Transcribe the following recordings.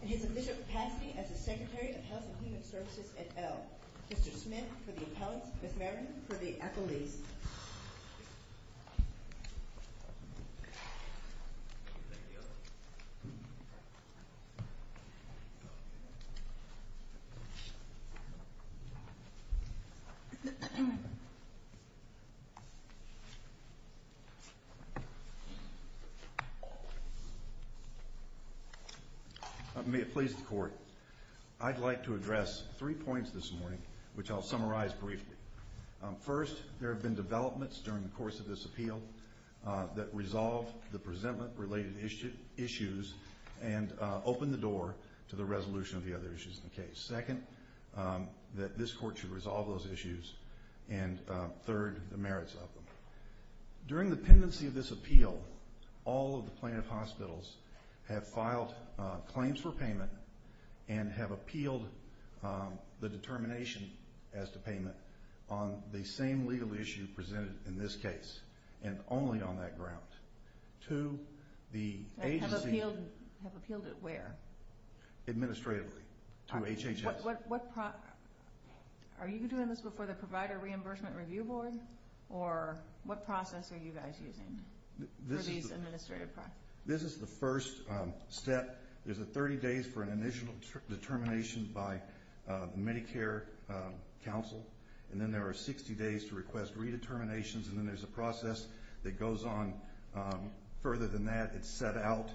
and his official capacity as the Secretary of Health and Human Services at Elk. Mr. Smith for the appellants, Ms. Merriman for the accolades. May it please the Court, I'd like to address three points this morning which I'll summarize briefly. First, there have been developments during the course of this appeal that resolve the presentment-related issues and open the door to the resolution of the other issues in the case. Second, that this Court should resolve those issues. And third, the merits of them. During the pendency of this appeal, all of the plaintiff hospitals have filed claims for payment and have appealed the determination as to payment on the same legal issue presented in this case, and only on that ground. To the agency... Have appealed it where? Administratively, to HHS. Are you doing this before the Provider Reimbursement Review Board? Or what process are you guys using? This is the first step. There's 30 days for an initial determination by Medicare counsel, and then there are 60 days to request redeterminations, and then there's a process that goes on further than that. It's set out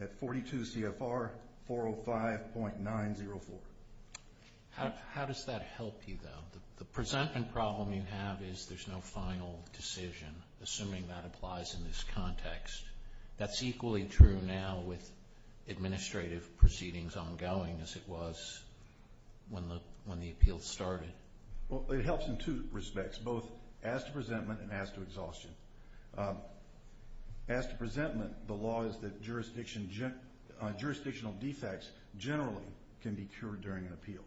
at 42 CFR 405.904. How does that help you, though? The presentment problem you have is there's no final decision, assuming that applies in this context. That's equally true now with administrative proceedings ongoing as it was when the appeal started. It helps in two respects, both as to presentment and as to exhaustion. As to presentment, the law is that jurisdictional defects generally can be cured during an appeal.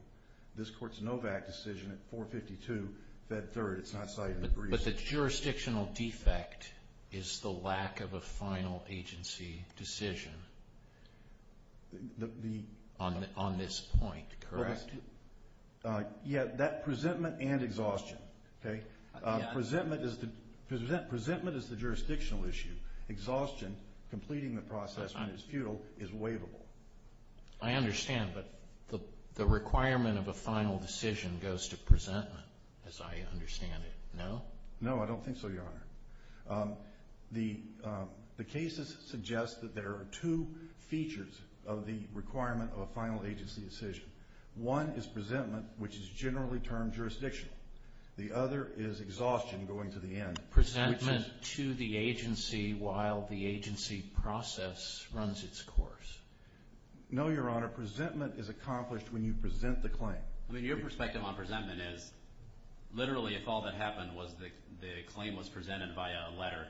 This Court's NOVAC decision at 452 Fed 3rd, it's not cited in the brief. But the jurisdictional defect is the lack of a final agency decision on this point, correct? Yeah, that presentment and exhaustion. Presentment is the jurisdictional issue. Exhaustion, completing the process when it's futile, is waivable. I understand, but the requirement of a final decision goes to presentment, as I understand it, no? No, I don't think so, Your Honor. The cases suggest that there are two features of the requirement of a final agency decision. One is presentment, which is generally termed jurisdictional. The other is exhaustion going to the end. Presentment to the agency while the agency process runs its course. No, Your Honor. Presentment is accomplished when you present the claim. I mean, your perspective on presentment is literally if all that happened was the claim was presented by a letter,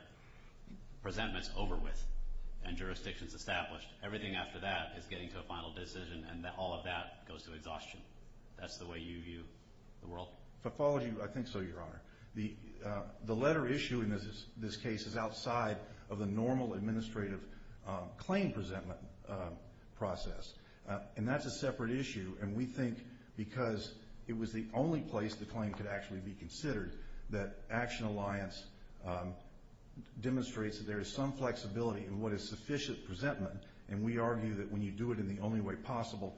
presentment's over with and jurisdiction's established. Everything after that is getting to a final decision, and all of that goes to exhaustion. That's the way you view the world? If I followed you, I think so, Your Honor. The letter issue in this case is outside of the normal administrative claim presentment process. And that's a separate issue. And we think because it was the only place the claim could actually be considered, that Action Alliance demonstrates that there is some flexibility in what is sufficient presentment. And we argue that when you do it in the only way possible,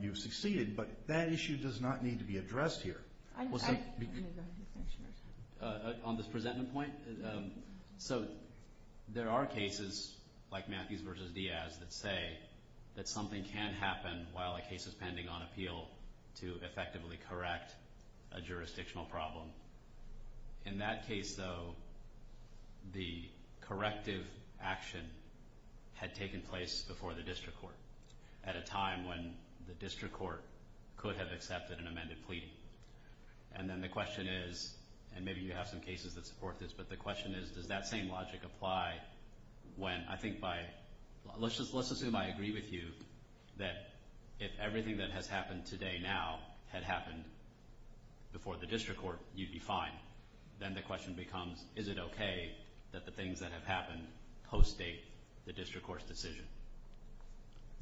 you've succeeded. But that issue does not need to be addressed here. On this presentment point, so there are cases like Matthews v. Diaz that say that something can happen while a case is pending on appeal to effectively correct a jurisdictional problem. In that case, though, the corrective action had taken place before the district court at a time when the district court could have accepted an amended pleading. And then the question is, and maybe you have some cases that support this, but the question is does that same logic apply when, I think by, let's assume I agree with you that if everything that has happened today now had happened before the district court, you'd be fine. Then the question becomes, is it okay that the things that have happened co-state the district court's decision?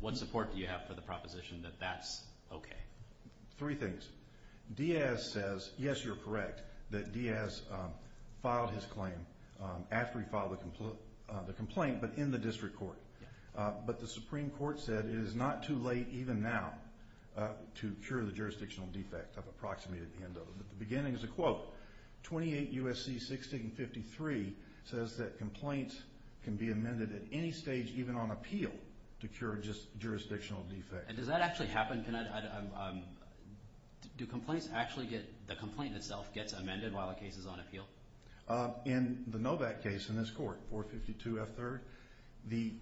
What support do you have for the proposition that that's okay? Three things. Diaz says, yes, you're correct, that Diaz filed his claim after he filed the complaint, but in the district court. But the Supreme Court said it is not too late even now to cure the jurisdictional defect. I've approximated the end of it, but the beginning is a quote. 28 U.S.C. 1653 says that complaints can be amended at any stage, even on appeal, to cure just jurisdictional defects. And does that actually happen? Do complaints actually get, the complaint itself gets amended while a case is on appeal? In the Novak case in this court, 452F3rd, the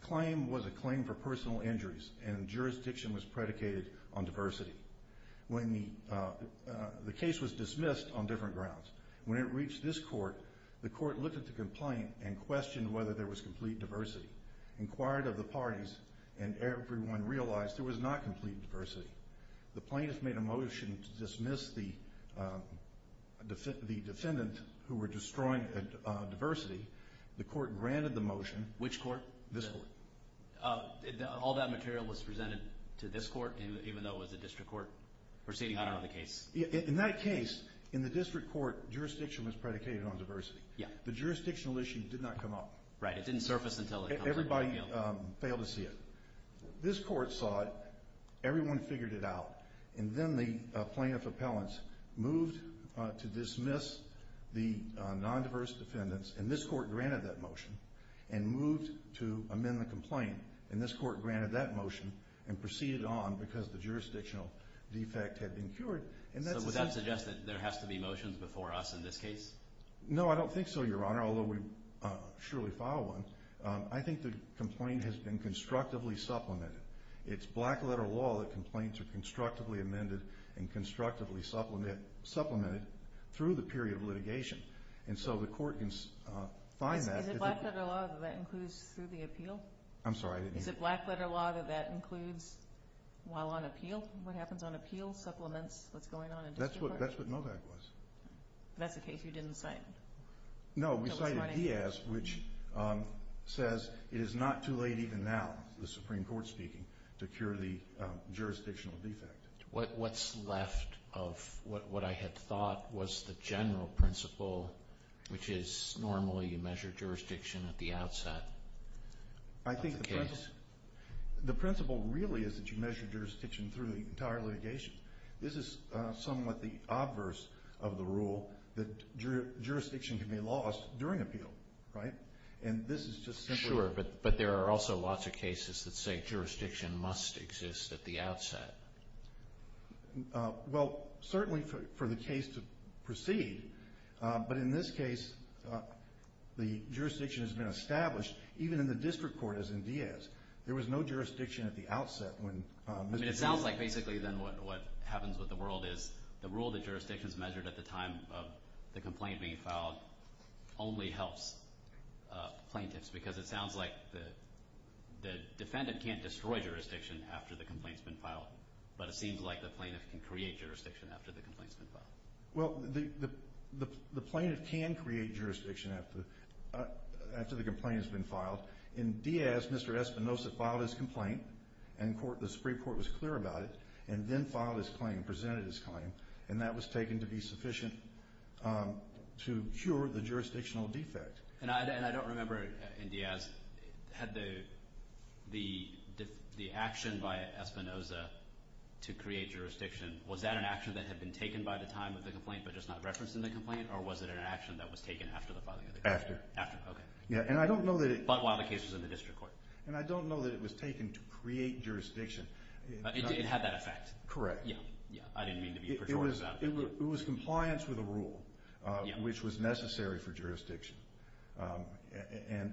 claim was a claim for personal injuries, and jurisdiction was predicated on diversity. The case was dismissed on different grounds. When it reached this court, the court looked at the complaint and questioned whether there was complete diversity, inquired of the parties, and everyone realized there was not complete diversity. The plaintiff made a motion to dismiss the defendant who were destroying diversity. The court granted the motion. Which court? This court. All that material was presented to this court, even though it was the district court, proceeding out of the case? In that case, in the district court, jurisdiction was predicated on diversity. The jurisdictional issue did not come up. Right, it didn't surface until it comes on appeal. Everybody failed to see it. This court saw it, everyone figured it out, and then the plaintiff appellants moved to dismiss the non-diverse defendants, and this court granted that motion and moved to amend the complaint, and this court granted that motion and proceeded on because the jurisdictional defect had been cured. So would that suggest that there has to be motions before us in this case? No, I don't think so, Your Honor, although we surely filed one. I think the complaint has been constructively supplemented. It's black-letter law that complaints are constructively amended and constructively supplemented through the period of litigation, and so the court can find that. Is it black-letter law that that includes through the appeal? I'm sorry, I didn't hear you. Is it black-letter law that that includes while on appeal? What happens on appeal supplements what's going on in district court? That's what Novak was. That's a case you didn't cite? No, we cited Diaz, which says it is not too late even now, the Supreme Court speaking, to cure the jurisdictional defect. What's left of what I had thought was the general principle, which is normally you measure jurisdiction at the outset of the case? I think the principle really is that you measure jurisdiction through the entire litigation. This is somewhat the obverse of the rule, that jurisdiction can be lost during appeal. Sure, but there are also lots of cases that say jurisdiction must exist at the outset. Well, certainly for the case to proceed, but in this case the jurisdiction has been established. Even in the district court, as in Diaz, there was no jurisdiction at the outset. It sounds like basically then what happens with the world is the rule that jurisdiction is measured at the time of the complaint being filed only helps plaintiffs, because it sounds like the defendant can't destroy jurisdiction after the complaint has been filed, but it seems like the plaintiff can create jurisdiction after the complaint has been filed. Well, the plaintiff can create jurisdiction after the complaint has been filed. In Diaz, Mr. Espinoza filed his complaint, and the Supreme Court was clear about it, and then filed his claim, presented his claim, and that was taken to be sufficient to cure the jurisdictional defect. And I don't remember in Diaz had the action by Espinoza to create jurisdiction, was that an action that had been taken by the time of the complaint but just not referenced in the complaint, or was it an action that was taken after the filing of the complaint? After. After, okay. Yeah, and I don't know that it… But while the case was in the district court. And I don't know that it was taken to create jurisdiction. It had that effect. Correct. Yeah, I didn't mean to be pejorative. It was compliance with a rule, which was necessary for jurisdiction,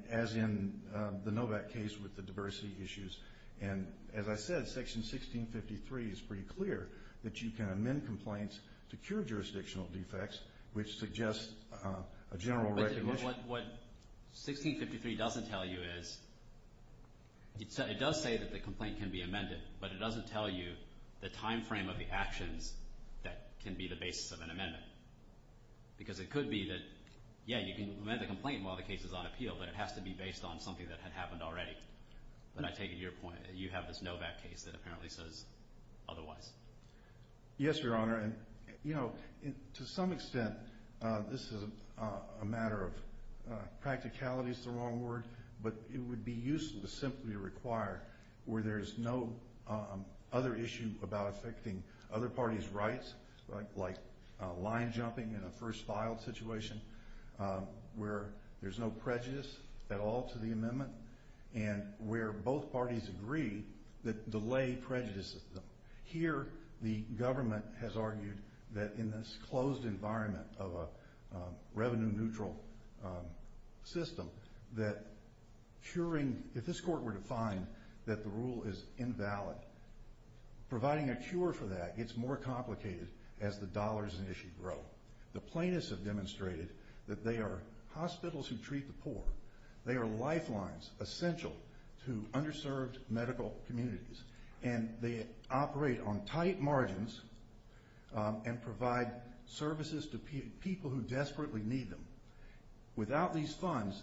as in the Novak case with the diversity issues. And as I said, Section 1653 is pretty clear that you can amend complaints to cure jurisdictional defects, which suggests a general recognition… What 1653 doesn't tell you is it does say that the complaint can be amended, but it doesn't tell you the timeframe of the actions that can be the basis of an amendment because it could be that, yeah, you can amend the complaint while the case is on appeal, but it has to be based on something that had happened already. But I take it to your point that you have this Novak case that apparently says otherwise. Yes, Your Honor. And, you know, to some extent, this is a matter of practicality is the wrong word, but it would be useful to simply require where there is no other issue about affecting other parties' rights, like line jumping in a first-filed situation, where there's no prejudice at all to the amendment, and where both parties agree that delay prejudices them. Here, the government has argued that in this closed environment of a revenue-neutral system, that if this Court were to find that the rule is invalid, providing a cure for that gets more complicated as the dollars in issue grow. The plaintiffs have demonstrated that they are hospitals who treat the poor. They are lifelines essential to underserved medical communities, and they operate on tight margins and provide services to people who desperately need them. Without these funds,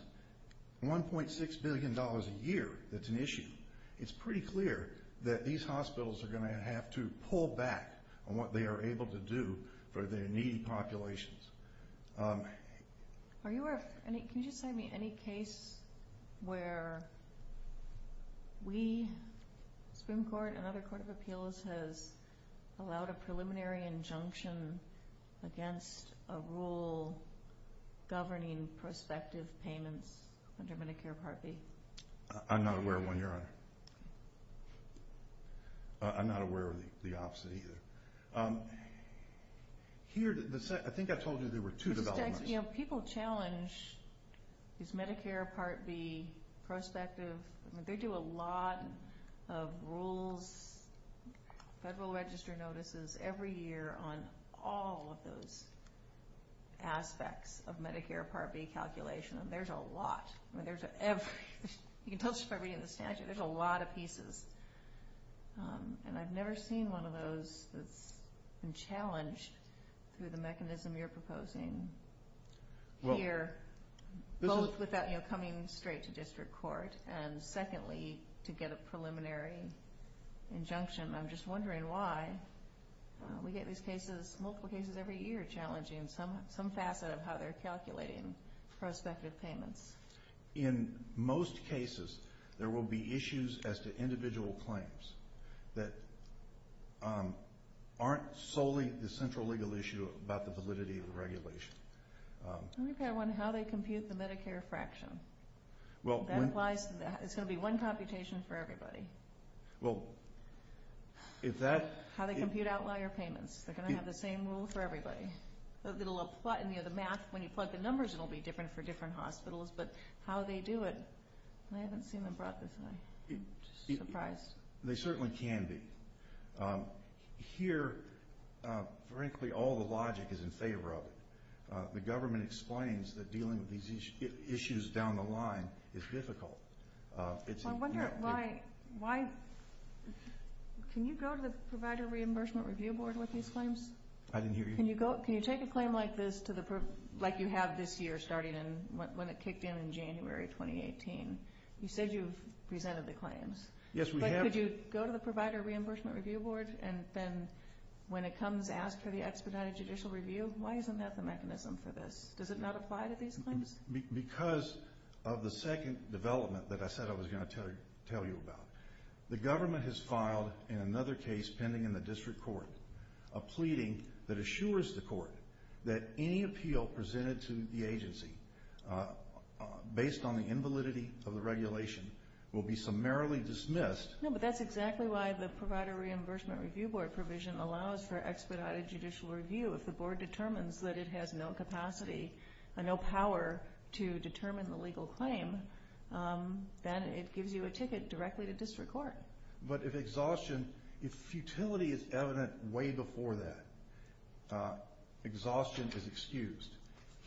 $1.6 billion a year, that's an issue. It's pretty clear that these hospitals are going to have to pull back on what they are able to do for their needy populations. Are you aware of any case where we, Supreme Court, and other court of appeals, has allowed a preliminary injunction against a rule governing prospective payments under Medicare Part B? I'm not aware of one, Your Honor. I'm not aware of the opposite, either. I think I told you there were two developments. People challenge this Medicare Part B prospective. They do a lot of rules, Federal Register notices, every year on all of those aspects of Medicare Part B calculation. There's a lot. You can tell just by reading the statute. There's a lot of pieces. I've never seen one of those that's been challenged through the mechanism you're proposing here, both without coming straight to district court and, secondly, to get a preliminary injunction. I'm just wondering why we get these cases, multiple cases every year, challenging some facet of how they're calculating prospective payments. In most cases, there will be issues as to individual claims that aren't solely the central legal issue about the validity of the regulation. How they compute the Medicare fraction. That applies to that. It's going to be one computation for everybody. How they compute outlier payments. They're going to have the same rule for everybody. The math, when you plug the numbers, it will be different for different hospitals. But how they do it, I haven't seen them brought this way. I'm surprised. They certainly can be. Here, frankly, all the logic is in favor of it. The government explains that dealing with these issues down the line is difficult. I wonder why. Can you go to the Provider Reimbursement Review Board with these claims? I didn't hear you. Can you take a claim like this, like you have this year, starting when it kicked in in January 2018? You said you've presented the claims. Yes, we have. But could you go to the Provider Reimbursement Review Board and then, when it comes, ask for the expedited judicial review? Why isn't that the mechanism for this? Does it not apply to these claims? Because of the second development that I said I was going to tell you about. The government has filed, in another case pending in the district court, a pleading that assures the court that any appeal presented to the agency based on the invalidity of the regulation will be summarily dismissed. No, but that's exactly why the Provider Reimbursement Review Board provision allows for expedited judicial review. If the board determines that it has no capacity, no power to determine the legal claim, then it gives you a ticket directly to district court. But if exhaustion, if futility is evident way before that, exhaustion is excused.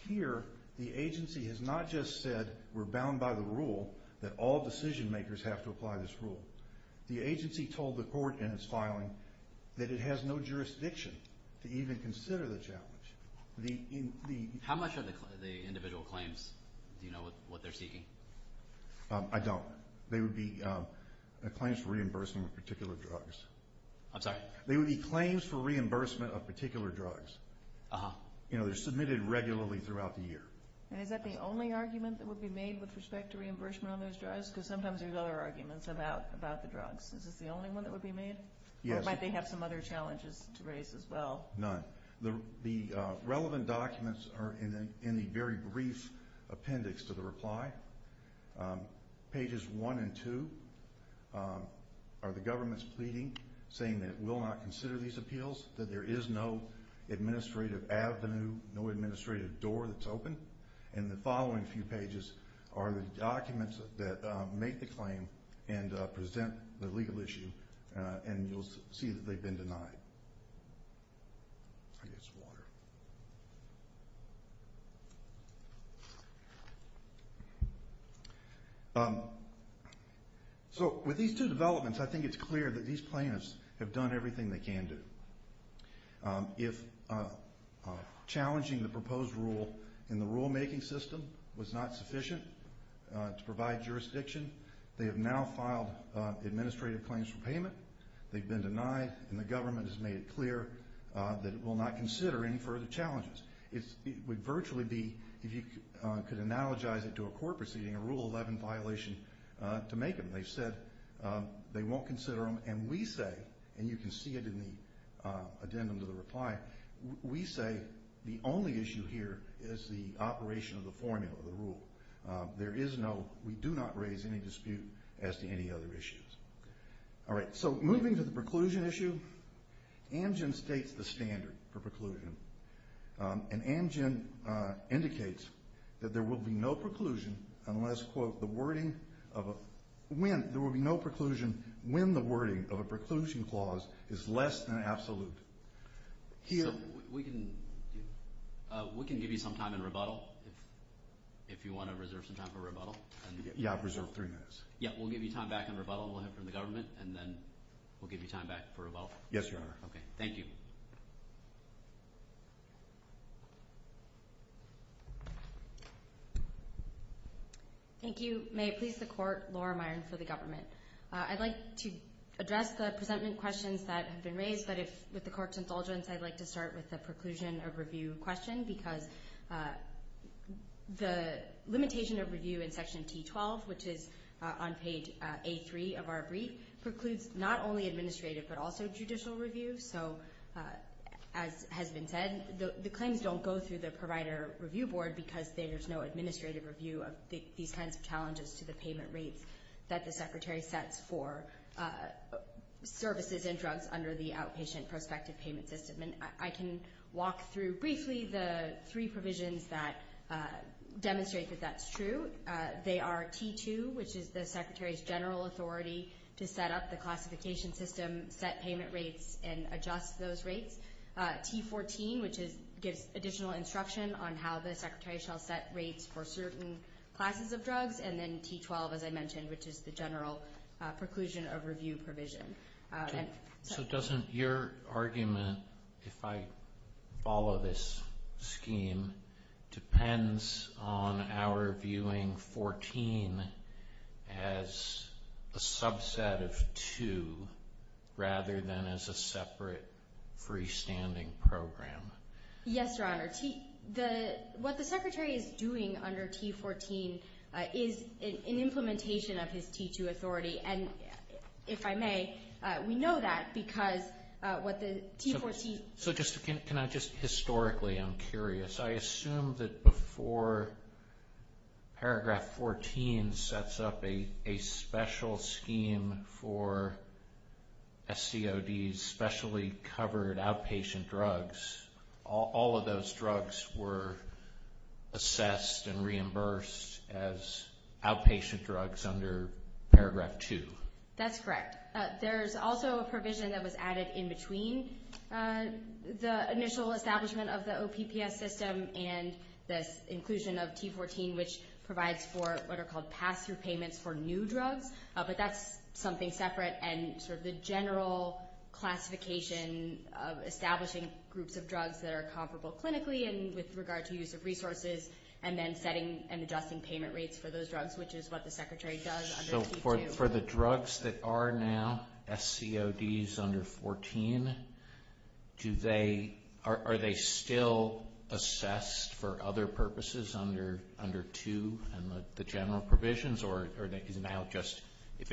Here, the agency has not just said we're bound by the rule that all decision makers have to apply this rule. The agency told the court in its filing that it has no jurisdiction to even consider the challenge. How much are the individual claims? Do you know what they're seeking? I don't. They would be claims for reimbursement of particular drugs. I'm sorry? They would be claims for reimbursement of particular drugs. They're submitted regularly throughout the year. And is that the only argument that would be made with respect to reimbursement on those drugs? Because sometimes there's other arguments about the drugs. Is this the only one that would be made? Yes. Or might they have some other challenges to raise as well? None. The relevant documents are in the very brief appendix to the reply. Pages 1 and 2 are the government's pleading, saying that it will not consider these appeals, that there is no administrative avenue, no administrative door that's open. And the following few pages are the documents that make the claim and present the legal issue, and you'll see that they've been denied. I'll get some water. So with these two developments, I think it's clear that these plaintiffs have done everything they can do. If challenging the proposed rule in the rulemaking system was not sufficient to provide jurisdiction, they have now filed administrative claims for payment. They've been denied, and the government has made it clear that it will not consider any further challenges. It would virtually be, if you could analogize it to a court proceeding, a Rule 11 violation to make them. They've said they won't consider them, and we say, and you can see it in the addendum to the reply, we say the only issue here is the operation of the formula, the rule. There is no, we do not raise any dispute as to any other issues. All right, so moving to the preclusion issue, Amgen states the standard for preclusion, and Amgen indicates that there will be no preclusion unless, quote, the wording of a, when, there will be no preclusion when the wording of a preclusion clause is less than absolute. So we can give you some time in rebuttal, if you want to reserve some time for rebuttal. Yeah, I've reserved three minutes. Yeah, we'll give you time back in rebuttal, and we'll have it from the government, and then we'll give you time back for rebuttal. Yes, Your Honor. Okay, thank you. Thank you. May it please the Court, Laura Myron for the government. I'd like to address the presentment questions that have been raised, but with the Court's indulgence, I'd like to start with the preclusion of review question because the limitation of review in Section T12, which is on page A3 of our brief, precludes not only administrative but also judicial review. So as has been said, the claims don't go through the provider review board because there's no administrative review of these kinds of challenges to the payment rates that the Secretary sets for services and drugs under the outpatient prospective payment system. And I can walk through briefly the three provisions that demonstrate that that's true. They are T2, which is the Secretary's general authority to set up the classification system, set payment rates, and adjust those rates. T14, which gives additional instruction on how the Secretary shall set rates for certain classes of drugs. And then T12, as I mentioned, which is the general preclusion of review provision. So doesn't your argument, if I follow this scheme, depends on our viewing 14 as a subset of 2 rather than as a separate freestanding program? Yes, Your Honor. What the Secretary is doing under T14 is an implementation of his T2 authority. And if I may, we know that because what the T14- So just historically, I'm curious. I assume that before Paragraph 14 sets up a special scheme for SCODs, specially covered outpatient drugs, all of those drugs were assessed and reimbursed as outpatient drugs under Paragraph 2. That's correct. There's also a provision that was added in between the initial establishment of the OPPS system and this inclusion of T14, which provides for what are called pass-through payments for new drugs. But that's something separate. And sort of the general classification of establishing groups of drugs that are comparable clinically and with regard to use of resources and then setting and adjusting payment rates for those drugs, which is what the Secretary does under T2. So for the drugs that are now SCODs under 14, are they still assessed for other purposes under 2 and the general provisions, or is it now just if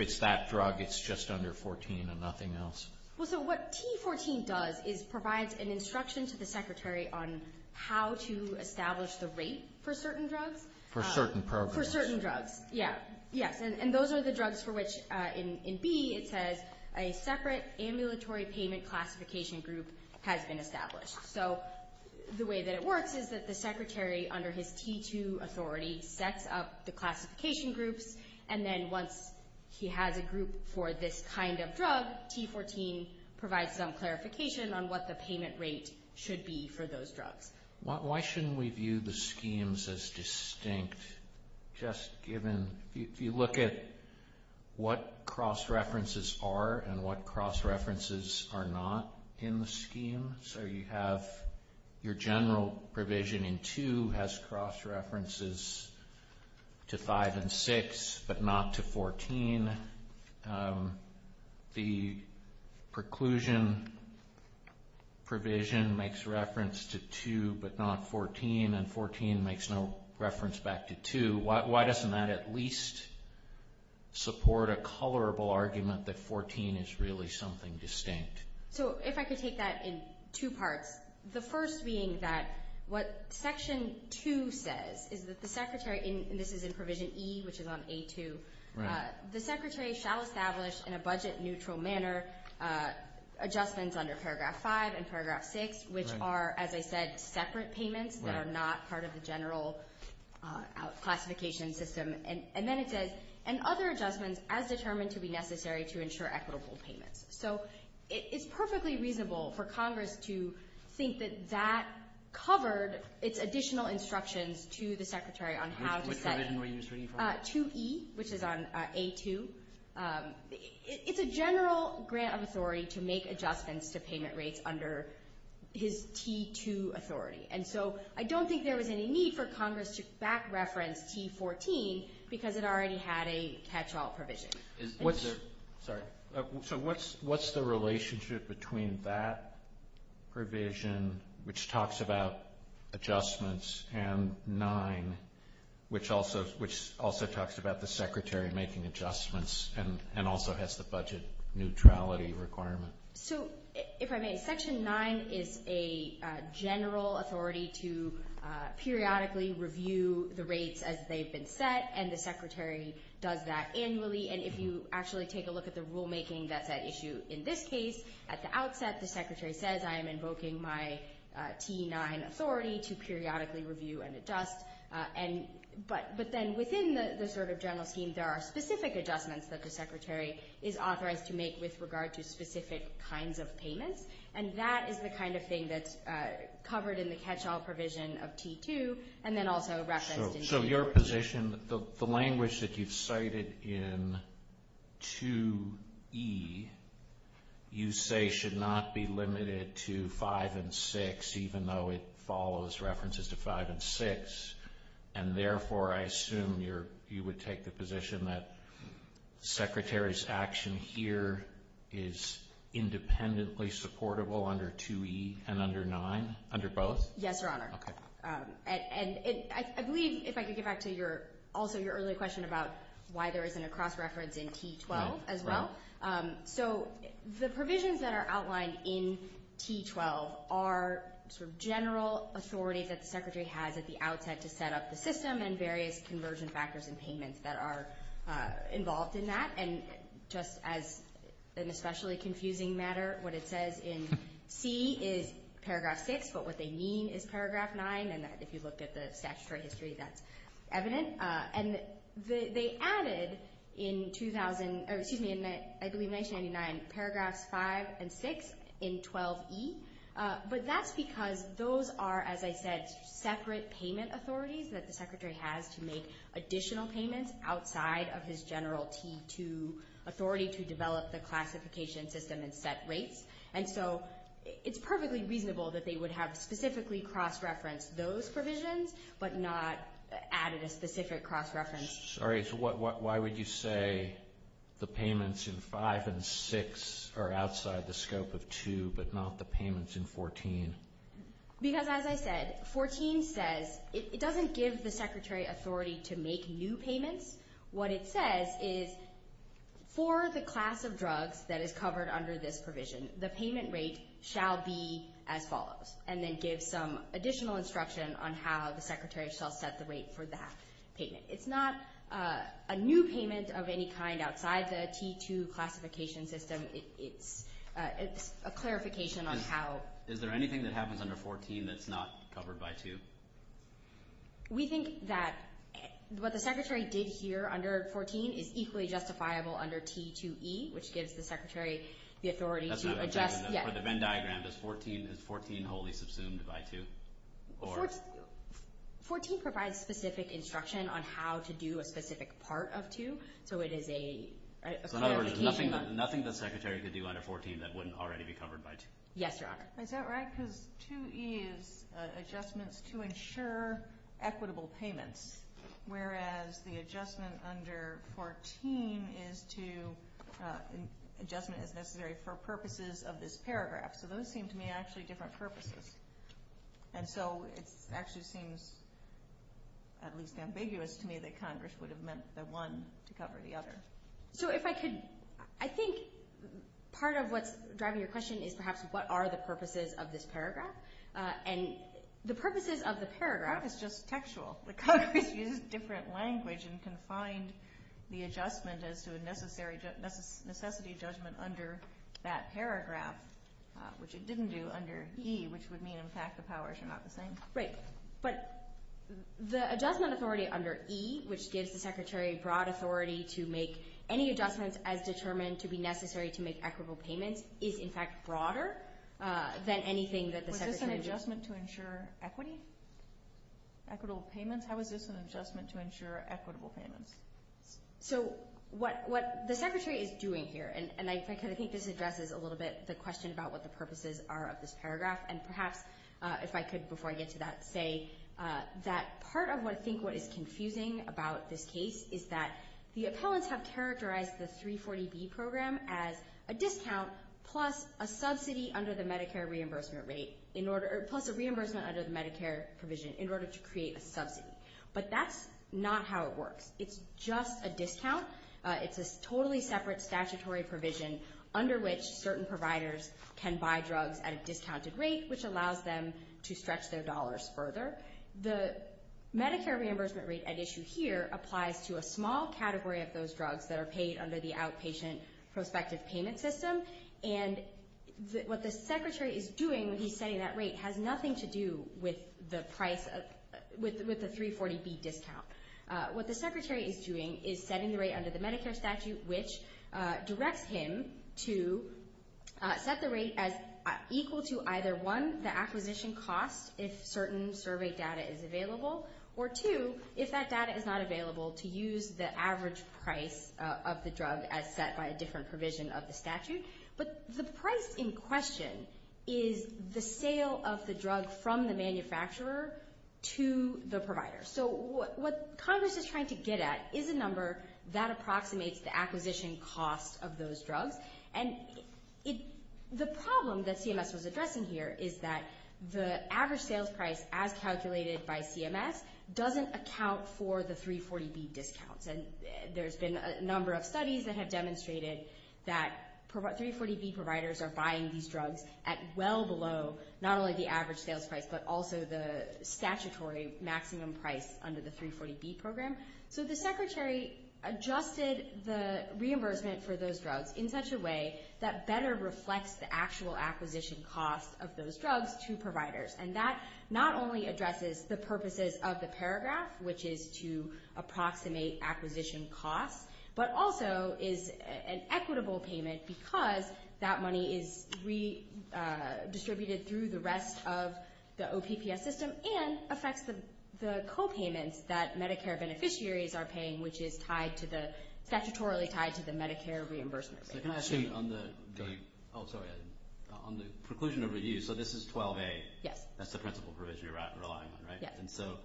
it's that drug, it's just under 14 and nothing else? Well, so what T14 does is provides an instruction to the Secretary on how to establish the rate for certain drugs. For certain programs. For certain drugs, yes. And those are the drugs for which, in B, it says, a separate ambulatory payment classification group has been established. So the way that it works is that the Secretary, under his T2 authority, sets up the classification groups, and then once he has a group for this kind of drug, T14 provides some clarification on what the payment rate should be for those drugs. Why shouldn't we view the schemes as distinct just given, if you look at what cross-references are and what cross-references are not in the scheme, so you have your general provision in 2 has cross-references to 5 and 6 but not to 14. The preclusion provision makes reference to 2 but not 14, and 14 makes no reference back to 2. Why doesn't that at least support a colorable argument that 14 is really something distinct? So if I could take that in two parts, the first being that what Section 2 says is that the Secretary, and this is in Provision E, which is on A2, the Secretary shall establish in a budget-neutral manner adjustments under Paragraph 5 and Paragraph 6, which are, as I said, separate payments that are not part of the general classification system, and then it says, and other adjustments as determined to be necessary to ensure equitable payments. So it's perfectly reasonable for Congress to think that that covered its additional instructions to the Secretary on how to set 2E, which is on A2. It's a general grant of authority to make adjustments to payment rates under his T2 authority, and so I don't think there was any need for Congress to back-reference T14 because it already had a catch-all provision. Sorry. So what's the relationship between that provision, which talks about adjustments, and 9, which also talks about the Secretary making adjustments and also has the budget neutrality requirement? So if I may, Section 9 is a general authority to periodically review the rates as they've been set, and the Secretary does that annually. And if you actually take a look at the rulemaking that's at issue in this case, at the outset the Secretary says, I am invoking my T9 authority to periodically review and adjust. But then within the sort of general scheme, there are specific adjustments that the Secretary is authorized to make with regard to specific kinds of payments, and that is the kind of thing that's covered in the catch-all provision of T2 and then also referenced in T14. So your position, the language that you've cited in 2E you say should not be limited to 5 and 6 even though it follows references to 5 and 6, and therefore I assume you would take the position that the Secretary's action here is independently supportable under 2E and under 9, under both? Yes, Your Honor. Okay. And I believe if I could get back to also your earlier question about why there isn't a cross-reference in T12 as well. So the provisions that are outlined in T12 are sort of general authority that the Secretary has at the outset to set up the system and various conversion factors and payments that are involved in that. And just as an especially confusing matter, what it says in C is paragraph 6, but what they mean is paragraph 9, and if you look at the statutory history, that's evident. And they added in 2000, excuse me, I believe 1999, paragraphs 5 and 6 in 12E, but that's because those are, as I said, separate payment authorities that the Secretary has to make additional payments outside of his general T2 authority to develop the classification system and set rates. And so it's perfectly reasonable that they would have specifically cross-referenced those provisions, but not added a specific cross-reference. Sorry, so why would you say the payments in 5 and 6 are outside the scope of 2, but not the payments in 14? Because as I said, 14 says it doesn't give the Secretary authority to make new payments. What it says is for the class of drugs that is covered under this provision, the payment rate shall be as follows, and then give some additional instruction on how the Secretary shall set the rate for that payment. It's not a new payment of any kind outside the T2 classification system. It's a clarification on how. Is there anything that happens under 14 that's not covered by 2? We think that what the Secretary did here under 14 is equally justifiable under T2E, which gives the Secretary the authority to adjust. For the Venn diagram, is 14 wholly subsumed by 2? 14 provides specific instruction on how to do a specific part of 2, so it is a clarification. So in other words, nothing the Secretary could do under 14 that wouldn't already be covered by 2? Yes, Your Honor. Is that right? Because 2E is adjustments to ensure equitable payments, whereas the adjustment under 14 is to adjustment as necessary for purposes of this paragraph. So those seem to me actually different purposes. And so it actually seems at least ambiguous to me that Congress would have meant the one to cover the other. So if I could, I think part of what's driving your question is perhaps what are the purposes of this paragraph. And the purposes of the paragraph is just textual. Congress uses different language and can find the adjustment as to a necessity judgment under that paragraph, which it didn't do under E, which would mean, in fact, the powers are not the same. Right. But the adjustment authority under E, which gives the Secretary broad authority to make any adjustments as determined to be necessary to make equitable payments, is, in fact, broader than anything that the Secretary— Was this an adjustment to ensure equity? Equitable payments? How is this an adjustment to ensure equitable payments? So what the Secretary is doing here, and I think this addresses a little bit the question about what the purposes are of this paragraph, and perhaps if I could, before I get to that, say that part of what I think is confusing about this case is that the appellants have characterized the 340B program as a discount plus a subsidy under the Medicare reimbursement rate, plus a reimbursement under the Medicare provision in order to create a subsidy. But that's not how it works. It's just a discount. It's a totally separate statutory provision under which certain providers can buy drugs at a discounted rate, which allows them to stretch their dollars further. The Medicare reimbursement rate at issue here applies to a small category of those drugs that are paid under the outpatient prospective payment system, and what the Secretary is doing when he's setting that rate has nothing to do with the price of—with the 340B discount. What the Secretary is doing is setting the rate under the Medicare statute, which directs him to set the rate as equal to either, one, the acquisition cost if certain survey data is available, or two, if that data is not available, to use the average price of the drug as set by a different provision of the statute. But the price in question is the sale of the drug from the manufacturer to the provider. So what Congress is trying to get at is a number that approximates the acquisition cost of those drugs. And the problem that CMS was addressing here is that the average sales price as calculated by CMS doesn't account for the 340B discounts. And there's been a number of studies that have demonstrated that 340B providers are buying these drugs at well below not only the average sales price but also the statutory maximum price under the 340B program. So the Secretary adjusted the reimbursement for those drugs in such a way that better reflects the actual acquisition cost of those drugs to providers. And that not only addresses the purposes of the paragraph, which is to approximate acquisition costs, but also is an equitable payment because that money is redistributed through the rest of the OPPS system and affects the copayments that Medicare beneficiaries are paying, which is tied to the – statutorily tied to the Medicare reimbursement rate. So can I ask you on the – oh, sorry, on the preclusion of review, so this is 12A. Yes. That's the principal provision you're relying on, right? Yes. And so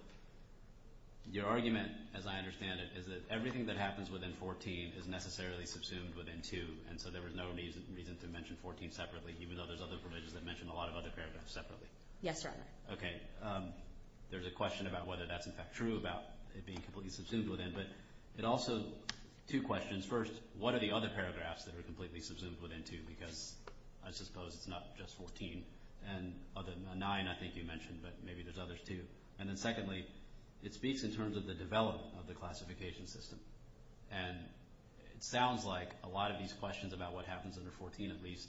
your argument, as I understand it, is that everything that happens within 14 is necessarily subsumed within 2, and so there was no reason to mention 14 separately even though there's other provisions that mention a lot of other paragraphs separately. Yes, Your Honor. Okay. There's a question about whether that's, in fact, true about it being completely subsumed within. But it also – two questions. First, what are the other paragraphs that are completely subsumed within 2 because I suppose it's not just 14. Nine I think you mentioned, but maybe there's others too. And then secondly, it speaks in terms of the development of the classification system, and it sounds like a lot of these questions about what happens under 14 at least,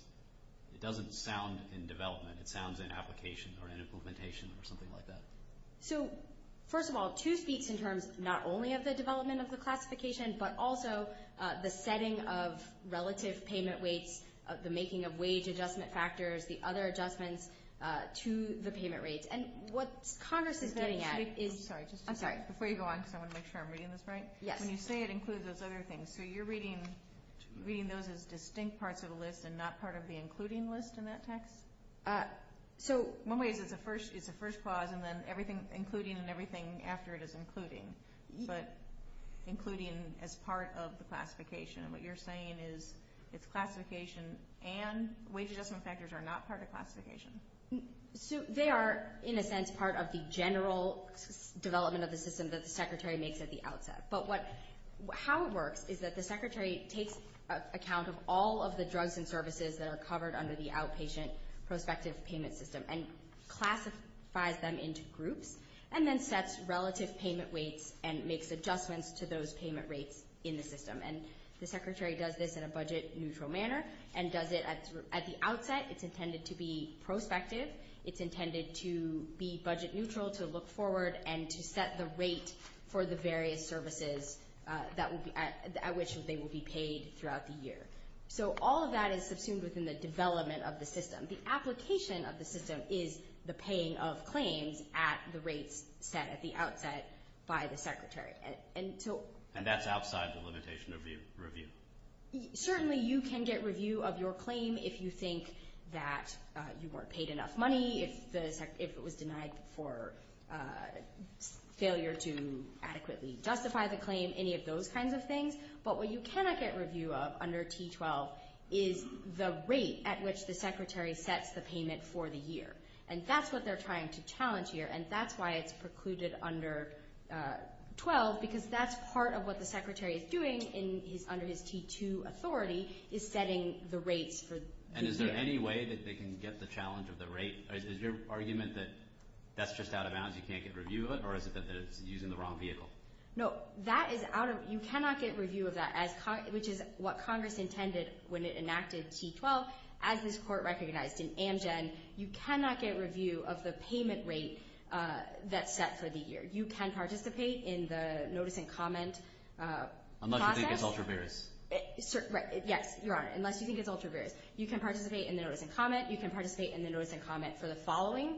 it doesn't sound in development. It sounds in application or in implementation or something like that. So first of all, 2 speaks in terms not only of the development of the classification but also the setting of relative payment weights, the making of wage adjustment factors, the other adjustments to the payment rates. And what Congress is getting at is – I'm sorry. I'm sorry. Before you go on because I want to make sure I'm reading this right. Yes. When you say it includes those other things, so you're reading those as distinct parts of the list and not part of the including list in that text? So – One way is it's a first clause and then everything including and everything after it is including. But including as part of the classification. And what you're saying is it's classification and wage adjustment factors are not part of classification. So they are in a sense part of the general development of the system that the Secretary makes at the outset. But how it works is that the Secretary takes account of all of the drugs and services that are covered under the outpatient prospective payment system and classifies them into groups and then sets relative payment weights and makes adjustments to those payment rates in the system. And the Secretary does this in a budget neutral manner and does it at the outset. It's intended to be prospective. It's intended to be budget neutral, to look forward, and to set the rate for the various services at which they will be paid throughout the year. So all of that is subsumed within the development of the system. The application of the system is the paying of claims at the rates set at the outset by the Secretary. And so – And that's outside the limitation of the review? Certainly you can get review of your claim if you think that you weren't paid enough money, if it was denied for failure to adequately justify the claim, any of those kinds of things. But what you cannot get review of under T12 is the rate at which the Secretary sets the payment for the year. And that's what they're trying to challenge here, and that's why it's precluded under 12 because that's part of what the Secretary is doing under his T2 authority is setting the rates for the year. And is there any way that they can get the challenge of the rate? Is your argument that that's just out of bounds, you can't get review of it, or is it that it's using the wrong vehicle? No, that is out of – you cannot get review of that, which is what Congress intended when it enacted T12. As this Court recognized in Amgen, you cannot get review of the payment rate that's set for the year. You can participate in the notice and comment process. Unless you think it's ultra-various. Yes, Your Honor, unless you think it's ultra-various. You can participate in the notice and comment. You can participate in the notice and comment for the following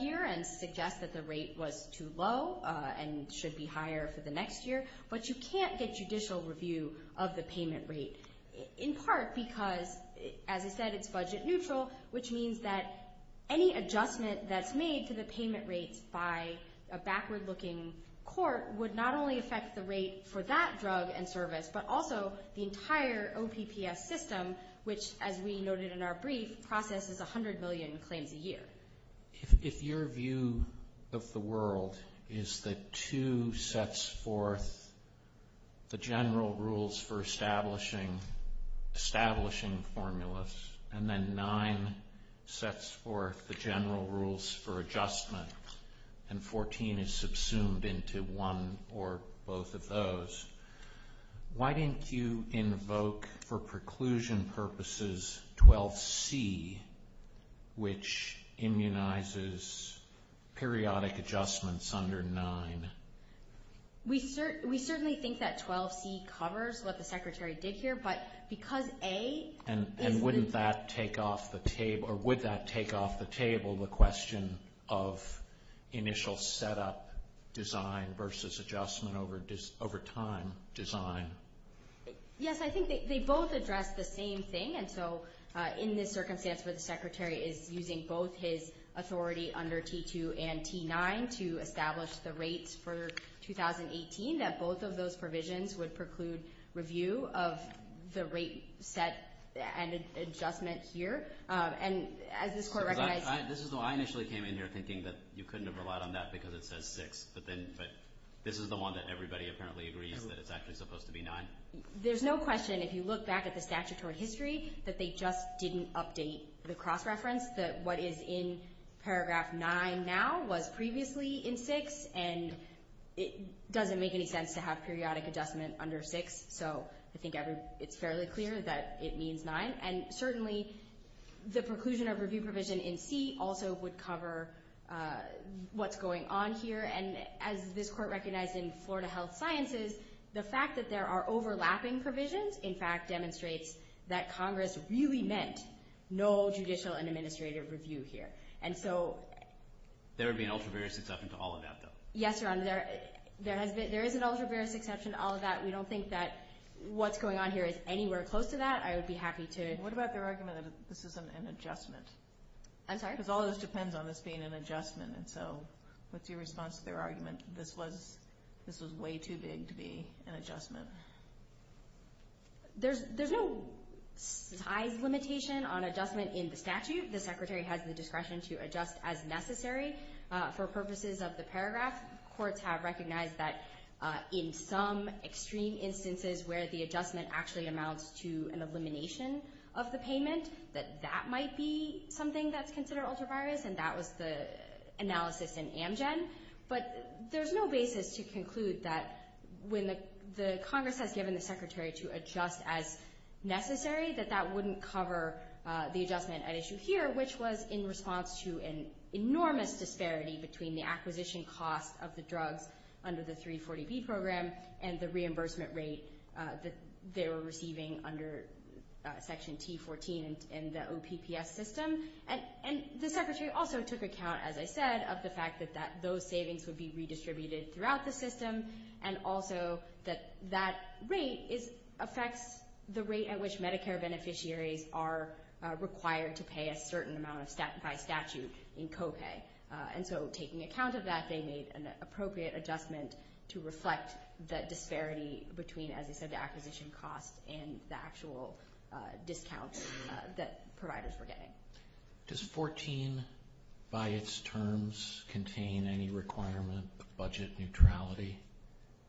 year that the rate was too low and should be higher for the next year, but you can't get judicial review of the payment rate, in part because, as I said, it's budget neutral, which means that any adjustment that's made to the payment rates by a backward-looking court would not only affect the rate for that drug and service, but also the entire OPPS system, which, as we noted in our brief, processes 100 million claims a year. If your view of the world is that two sets forth the general rules for establishing formulas, and then nine sets forth the general rules for adjustment, and 14 is subsumed into one or both of those, why didn't you invoke, for preclusion purposes, 12C, which immunizes periodic adjustments under nine? We certainly think that 12C covers what the Secretary did here, but because A is the... And wouldn't that take off the table, or would that take off the table, the question of initial setup design versus adjustment over time design? Yes, I think they both address the same thing, and so in this circumstance where the Secretary is using both his authority under T2 and T9 to establish the rates for 2018, that both of those provisions would preclude review of the rate set and adjustment here. I initially came in here thinking that you couldn't have relied on that because it says six, but this is the one that everybody apparently agrees that it's actually supposed to be nine. There's no question, if you look back at the statutory history, that they just didn't update the cross-reference that what is in paragraph nine now was previously in six, and it doesn't make any sense to have periodic adjustment under six. So I think it's fairly clear that it means nine, and certainly the preclusion of review provision in C also would cover what's going on here, and as this Court recognized in Florida Health Sciences, the fact that there are overlapping provisions, in fact, demonstrates that Congress really meant no judicial and administrative review here, and so... There would be an ultra-various exception to all of that, though. Yes, Your Honor, there is an ultra-various exception to all of that. We don't think that what's going on here is anywhere close to that. I would be happy to... What about their argument that this isn't an adjustment? I'm sorry? Because all of this depends on this being an adjustment, and so what's your response to their argument? This was way too big to be an adjustment. There's no size limitation on adjustment in the statute. The Secretary has the discretion to adjust as necessary. For purposes of the paragraph, courts have recognized that in some extreme instances where the adjustment actually amounts to an elimination of the payment, that that might be something that's considered ultra-various, and that was the analysis in Amgen. But there's no basis to conclude that when the Congress has given the Secretary to adjust as necessary, that that wouldn't cover the adjustment at issue here, which was in response to an enormous disparity between the acquisition cost of the drugs under the 340B program and the reimbursement rate that they were receiving under Section T14 in the OPPS system. And the Secretary also took account, as I said, of the fact that those savings would be redistributed throughout the system, and also that that rate affects the rate at which Medicare beneficiaries are required to pay a certain amount by statute in co-pay. And so taking account of that, they made an appropriate adjustment to reflect the disparity between, as I said, the acquisition cost and the actual discount that providers were getting. Does 14 by its terms contain any requirement of budget neutrality?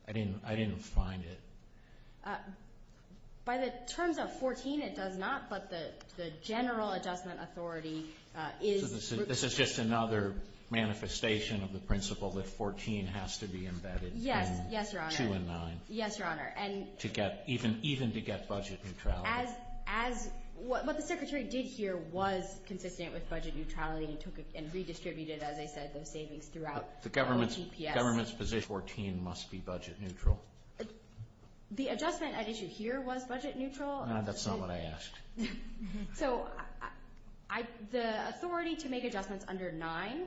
I didn't find it. By the terms of 14, it does not, but the general adjustment authority is. This is just another manifestation of the principle that 14 has to be embedded in 2 and 9. Yes, Your Honor. Yes, Your Honor. Even to get budget neutrality. What the Secretary did here was consistent with budget neutrality and redistributed, as I said, those savings throughout the OPPS. The government's position, 14 must be budget neutral? The adjustment at issue here was budget neutral. That's not what I asked. So the authority to make adjustments under 9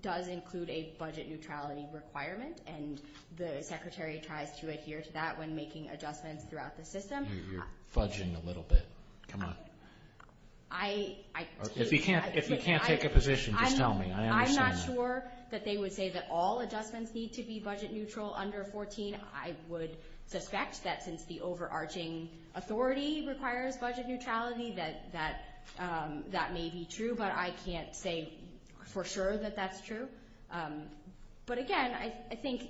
does include a budget neutrality requirement, and the Secretary tries to adhere to that when making adjustments throughout the system. You're fudging a little bit. Come on. If you can't take a position, just tell me. I understand that. I'm not sure that they would say that all adjustments need to be budget neutral under 14. I would suspect that since the overarching authority requires budget neutrality that that may be true, but I can't say for sure that that's true. But, again, I think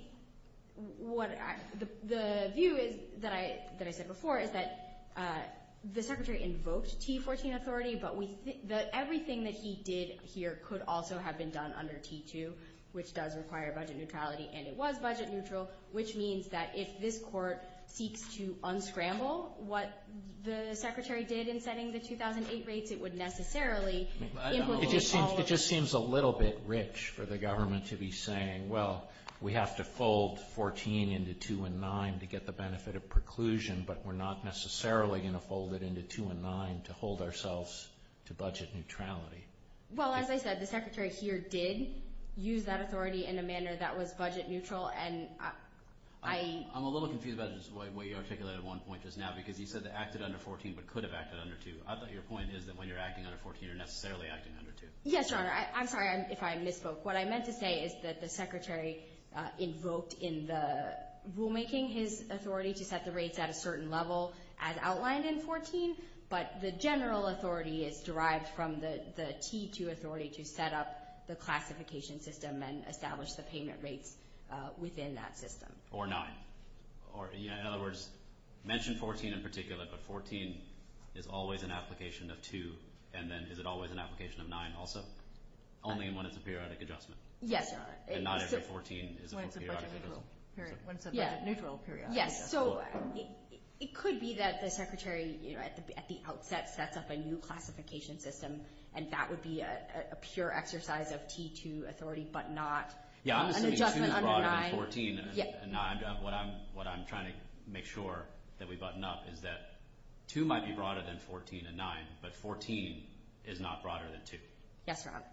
the view that I said before is that the Secretary invoked T14 authority, but everything that he did here could also have been done under T2, which does require budget neutrality, and it was budget neutral, which means that if this Court seeks to unscramble what the Secretary did in setting the 2008 rates, it would necessarily include all of... It just seems a little bit rich for the government to be saying, well, we have to fold 14 into 2 and 9 to get the benefit of preclusion, but we're not necessarily going to fold it into 2 and 9 to hold ourselves to budget neutrality. Well, as I said, the Secretary here did use that authority in a manner that was budget neutral, and I... I'm a little confused about the way you articulated one point just now, because you said it acted under 14 but could have acted under 2. I thought your point is that when you're acting under 14, you're necessarily acting under 2. Yes, Your Honor. I'm sorry if I misspoke. What I meant to say is that the Secretary invoked in the rulemaking his authority to set the rates at a certain level, as outlined in 14, but the general authority is derived from the T2 authority to set up the classification system and establish the payment rates within that system. Or 9. In other words, mention 14 in particular, but 14 is always an application of 2, and then is it always an application of 9 also? Only when it's a periodic adjustment. Yes, Your Honor. And not if the 14 is a periodic adjustment. When it's a budget neutral periodic adjustment. Yes, so it could be that the Secretary at the outset sets up a new classification system, and that would be a pure exercise of T2 authority, but not an adjustment under 9. What I'm trying to make sure that we button up is that 2 might be broader than 14 and 9, but 14 is not broader than 2. Yes, Your Honor.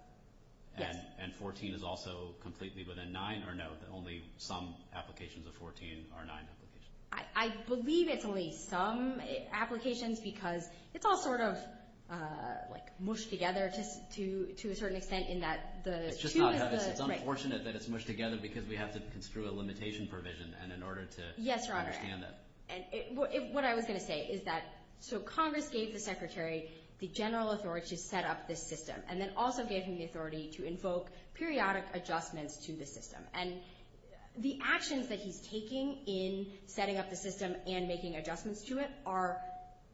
And 14 is also completely within 9, or no? Only some applications of 14 are 9 applications. I believe it's only some applications because it's all sort of mushed together to a certain extent. It's unfortunate that it's mushed together because we have to construe a limitation provision in order to understand that. Yes, Your Honor. What I was going to say is that Congress gave the Secretary the general authority to set up this system, and then also gave him the authority to invoke periodic adjustments to the system. And the actions that he's taking in setting up the system and making adjustments to it are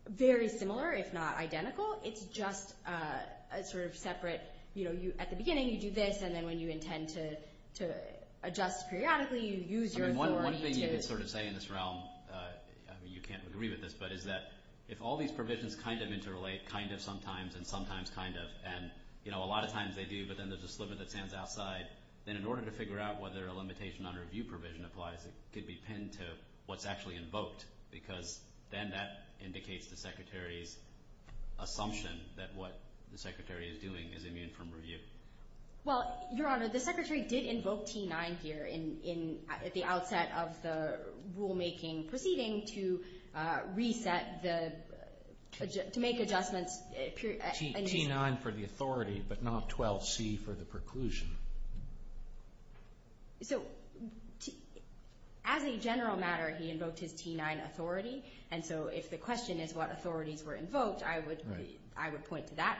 very similar, if not identical. It's just sort of separate. At the beginning, you do this, and then when you intend to adjust periodically, you use your authority to— One thing you could sort of say in this realm, you can't agree with this, but is that if all these provisions kind of interrelate, kind of sometimes and sometimes kind of, and a lot of times they do, but then there's a sliver that stands outside, then in order to figure out whether a limitation on review provision applies, it could be pinned to what's actually invoked because then that indicates the Secretary's assumption that what the Secretary is doing is immune from review. Well, Your Honor, the Secretary did invoke T9 here at the outset of the rulemaking proceeding to reset the—to make adjustments. T9 for the authority, but not 12C for the preclusion. So as a general matter, he invoked his T9 authority, and so if the question is what authorities were invoked, I would point to that.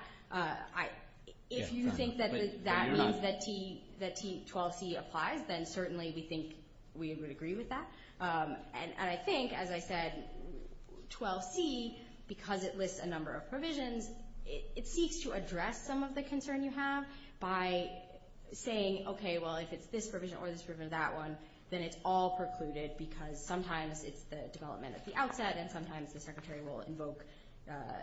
If you think that that means that T12C applies, then certainly we think we would agree with that. And I think, as I said, 12C, because it lists a number of provisions, it seeks to address some of the concern you have by saying, okay, well, if it's this provision or this provision or that one, then it's all precluded because sometimes it's the development at the outset, and sometimes the Secretary will invoke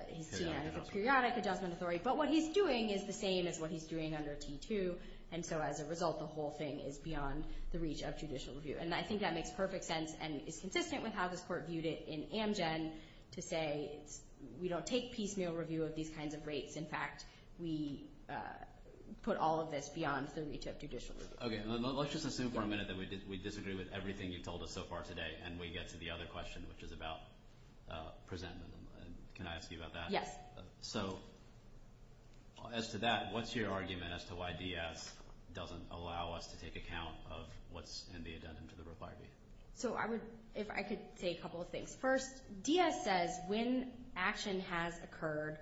his T9 as a periodic adjustment authority. But what he's doing is the same as what he's doing under T2, and so as a result, the whole thing is beyond the reach of judicial review. And I think that makes perfect sense and is consistent with how this Court viewed it in Amgen to say we don't take piecemeal review of these kinds of rates. In fact, we put all of this beyond the reach of judicial review. Okay. Let's just assume for a minute that we disagree with everything you've told us so far today, and we get to the other question, which is about presentment. Can I ask you about that? Yes. So as to that, what's your argument as to why DS doesn't allow us to take account of what's in the addendum to the Roe v. Wade? So I would – if I could say a couple of things. First, DS says when action has occurred,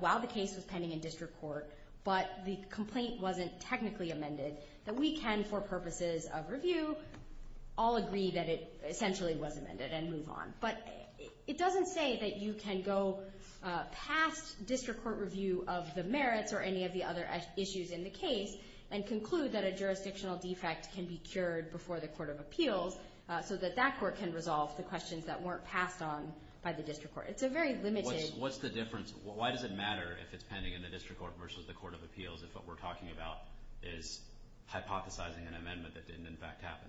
while the case was pending in district court, but the complaint wasn't technically amended, that we can, for purposes of review, all agree that it essentially was amended and move on. But it doesn't say that you can go past district court review of the merits or any of the other issues in the case and conclude that a jurisdictional defect can be cured before the Court of Appeals so that that court can resolve the questions that weren't passed on by the district court. It's a very limited – What's the difference? Why does it matter if it's pending in the district court versus the Court of Appeals if what we're talking about is hypothesizing an amendment that didn't, in fact, happen?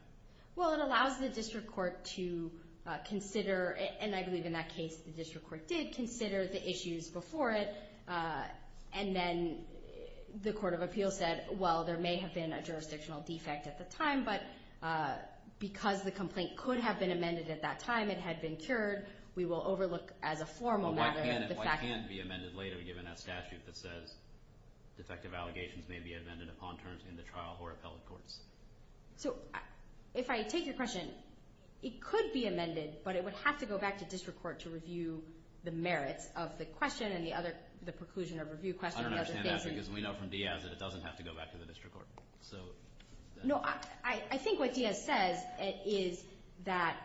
Well, it allows the district court to consider – and I believe in that case, the district court did consider the issues before it, and then the Court of Appeals said, well, there may have been a jurisdictional defect at the time, but because the complaint could have been amended at that time, it had been cured, we will overlook as a formal matter the fact that – But why can't it be amended later given that statute that says defective allegations may be amended upon terms in the trial or appellate courts? So if I take your question, it could be amended, but it would have to go back to district court to review the merits of the question and the other – the preclusion of review question. I don't understand that because we know from Diaz that it doesn't have to go back to the district court. No, I think what Diaz says is that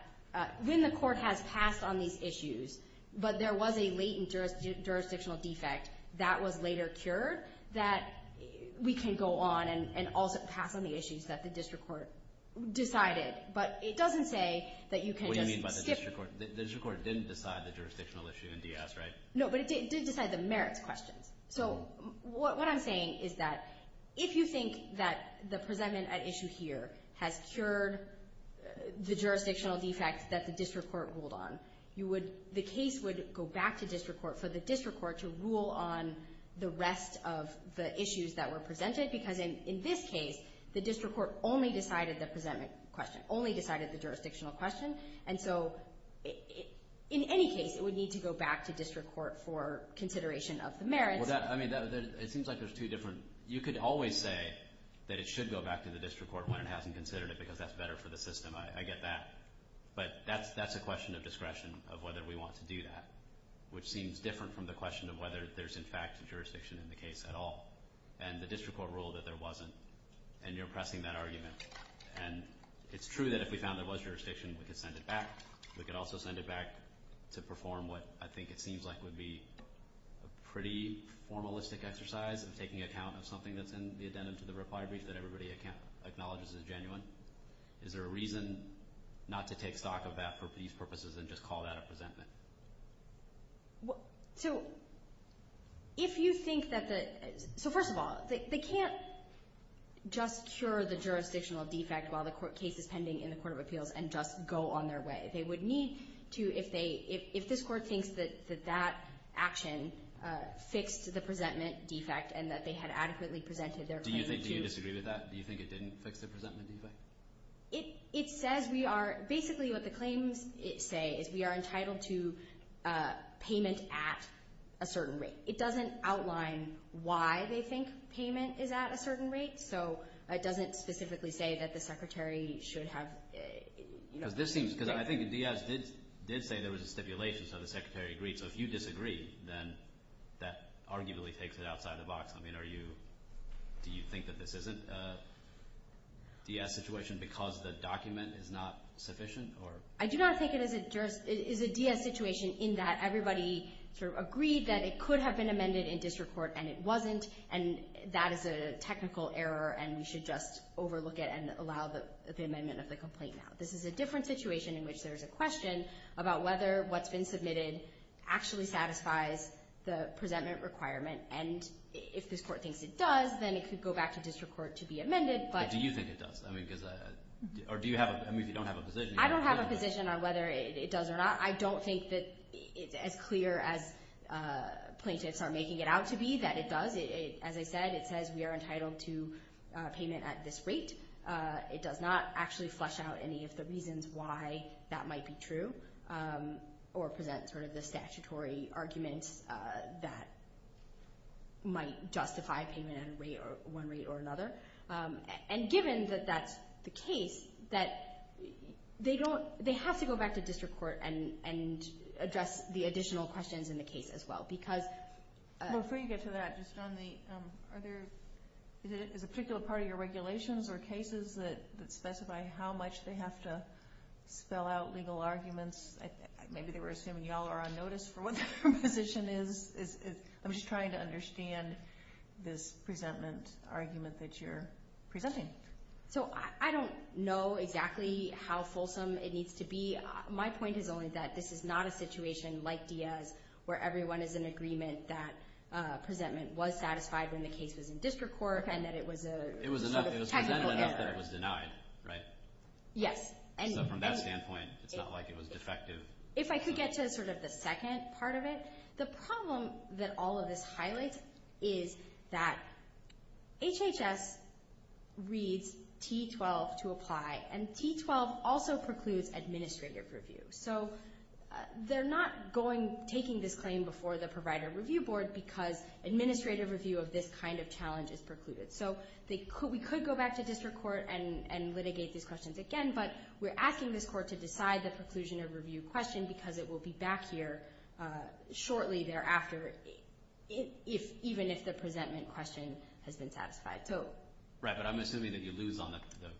when the court has passed on these issues, but there was a latent jurisdictional defect that was later cured, that we can go on and pass on the issues that the district court decided. But it doesn't say that you can just skip – What do you mean by the district court? The district court didn't decide the jurisdictional issue in Diaz, right? No, but it did decide the merits questions. So what I'm saying is that if you think that the presentment at issue here has cured the jurisdictional defect that the district court ruled on, the case would go back to district court for the district court to rule on the rest of the issues that were presented because in this case, the district court only decided the presentment question, only decided the jurisdictional question. And so in any case, it would need to go back to district court for consideration of the merits. I mean, it seems like there's two different – you could always say that it should go back to the district court when it hasn't considered it because that's better for the system. I get that. But that's a question of discretion of whether we want to do that, which seems different from the question of whether there's, in fact, jurisdiction in the case at all and the district court ruled that there wasn't. And you're pressing that argument. And it's true that if we found there was jurisdiction, we could send it back. We could also send it back to perform what I think it seems like would be a pretty formalistic exercise of taking account of something that's in the addendum to the reply brief that everybody acknowledges is genuine. Is there a reason not to take stock of that for these purposes and just call that a presentment? So if you think that the – so first of all, they can't just cure the jurisdictional defect while the case is pending in the Court of Appeals and just go on their way. They would need to, if this court thinks that that action fixed the presentment defect and that they had adequately presented their claim to – Do you disagree with that? Do you think it didn't fix the presentment defect? It says we are – basically what the claims say is we are entitled to payment at a certain rate. It doesn't outline why they think payment is at a certain rate, so it doesn't specifically say that the Secretary should have – Because this seems – because I think the DS did say there was a stipulation so the Secretary agreed. So if you disagree, then that arguably takes it outside the box. I mean, are you – do you think that this isn't a DS situation because the document is not sufficient or – I do not think it is a DS situation in that everybody sort of agreed that it could have been amended in district court and it wasn't, and that is a technical error and we should just overlook it and allow the amendment of the complaint now. This is a different situation in which there is a question about whether what's been submitted actually satisfies the presentment requirement, and if this court thinks it does, then it could go back to district court to be amended, but – But do you think it does? I mean, because – or do you have – I mean, if you don't have a position – I don't have a position on whether it does or not. I don't think that it's as clear as plaintiffs are making it out to be that it does. As I said, it says we are entitled to payment at this rate. It does not actually flesh out any of the reasons why that might be true or present sort of the statutory arguments that might justify payment at one rate or another, and given that that's the case, that they don't – they have to go back to district court and address the additional questions in the case as well because – Before you get to that, just on the – are there – are there cases that specify how much they have to spell out legal arguments? Maybe they were assuming you all are on notice for what their position is. I'm just trying to understand this presentment argument that you're presenting. So I don't know exactly how fulsome it needs to be. My point is only that this is not a situation like Diaz where everyone is in agreement that presentment was satisfied when the case was in district court and that it was a – It was presented enough that it was denied, right? Yes. So from that standpoint, it's not like it was defective. If I could get to sort of the second part of it, the problem that all of this highlights is that HHS reads T12 to apply, and T12 also precludes administrative review. So they're not going – taking this claim before the provider review board because administrative review of this kind of challenge is precluded. So we could go back to district court and litigate these questions again, but we're asking this court to decide the preclusion of review question because it will be back here shortly thereafter even if the presentment question has been satisfied. Right, but I'm assuming that you lose on the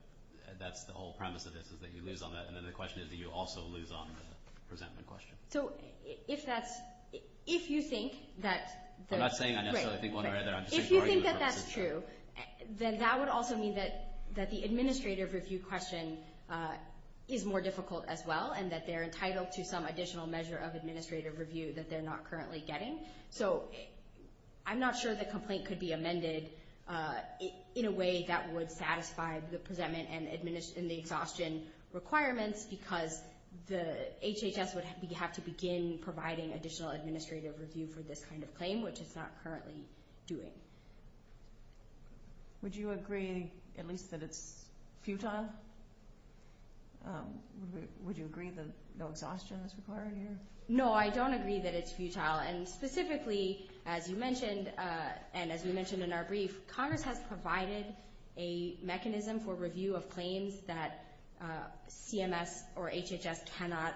– that's the whole premise of this is that you lose on that, and then the question is that you also lose on the presentment question. So if that's – if you think that – I'm not saying I necessarily think one way or the other. If you think that that's true, then that would also mean that the administrative review question is more difficult as well and that they're entitled to some additional measure of administrative review that they're not currently getting. So I'm not sure the complaint could be amended in a way that would satisfy the presentment and the exhaustion requirements because the HHS would have to begin providing additional administrative review for this kind of claim, which it's not currently doing. Would you agree at least that it's futile? Would you agree that no exhaustion is required here? No, I don't agree that it's futile. And specifically, as you mentioned and as we mentioned in our brief, Congress has provided a mechanism for review of claims that CMS or HHS cannot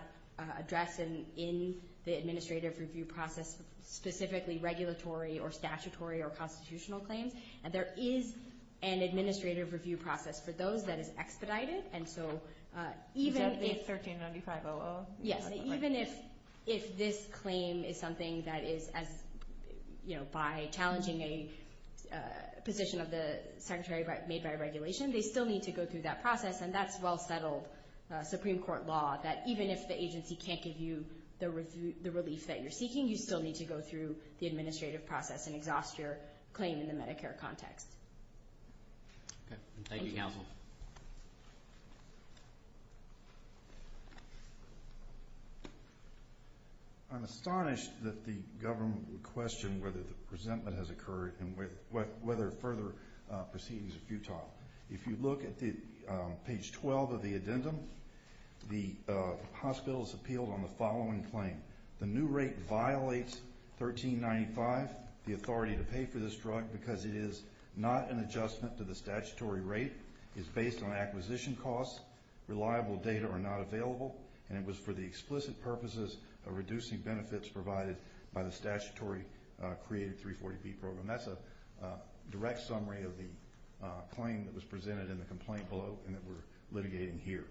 address in the administrative review process, specifically regulatory or statutory or constitutional claims. And there is an administrative review process for those that is expedited. And so even if – Is that the 1395-00? Yes, even if this claim is something that is as – by challenging a position of the Secretary made by regulation, they still need to go through that process, and that's well-settled Supreme Court law, that even if the agency can't give you the relief that you're seeking, you still need to go through the administrative process and exhaust your claim in the Medicare context. Thank you, counsel. I'm astonished that the government would question whether the presentment has If you look at page 12 of the addendum, the hospital has appealed on the following claim. The new rate violates 1395, the authority to pay for this drug, because it is not an adjustment to the statutory rate, is based on acquisition costs, reliable data are not available, and it was for the explicit purposes of reducing benefits provided by the statutory created 340B program. And that's a direct summary of the claim that was presented in the complaint below and that we're litigating here.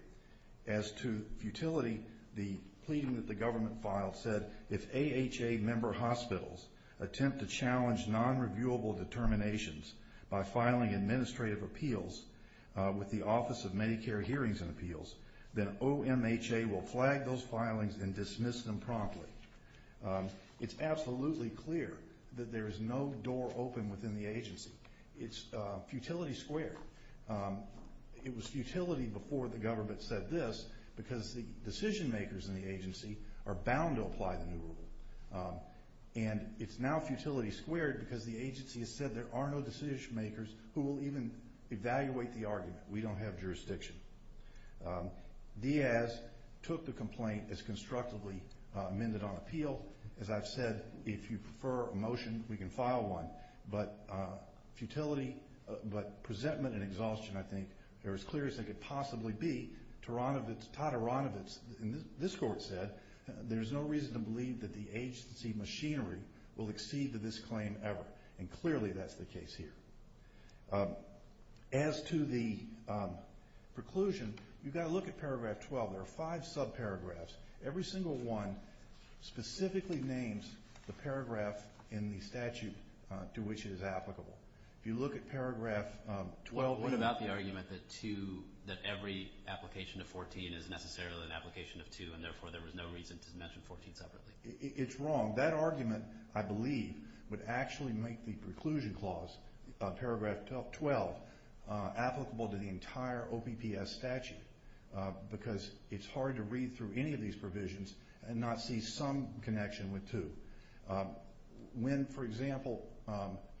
As to futility, the pleading that the government filed said, if AHA member hospitals attempt to challenge non-reviewable determinations by filing administrative appeals with the Office of Medicare Hearings and Appeals, then OMHA will flag those filings and dismiss them promptly. It's absolutely clear that there is no door open within the agency. It's futility squared. It was futility before the government said this, because the decision-makers in the agency are bound to apply the new rule. And it's now futility squared because the agency has said there are no decision-makers who will even evaluate the argument. We don't have jurisdiction. Diaz took the complaint as constructively amended on appeal. As I've said, if you prefer a motion, we can file one. But futility, but presentment and exhaustion, I think, are as clear as they could possibly be. Tod Aronowitz in this court said, there's no reason to believe that the agency machinery will exceed to this claim ever. And clearly that's the case here. As to the preclusion, you've got to look at Paragraph 12. There are five subparagraphs. Every single one specifically names the paragraph in the statute to which it is applicable. If you look at Paragraph 12. What about the argument that two, that every application of 14 is necessarily an application of two, and therefore there was no reason to mention 14 separately? It's wrong. That argument, I believe, would actually make the preclusion clause on Paragraph 12 applicable to the entire OPPS statute because it's hard to read through any of these provisions and not see some connection with two. When, for example,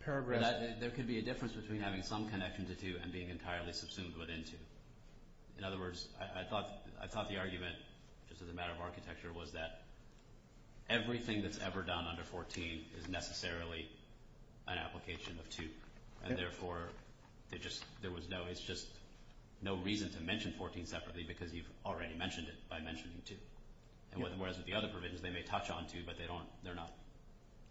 Paragraph 12… There could be a difference between having some connection to two and being entirely subsumed within two. In other words, I thought the argument, just as a matter of architecture, was that everything that's ever done under 14 is necessarily an application of two, and therefore it's just no reason to mention 14 separately because you've already mentioned it by mentioning two. Whereas with the other provisions, they may touch on two, but they're not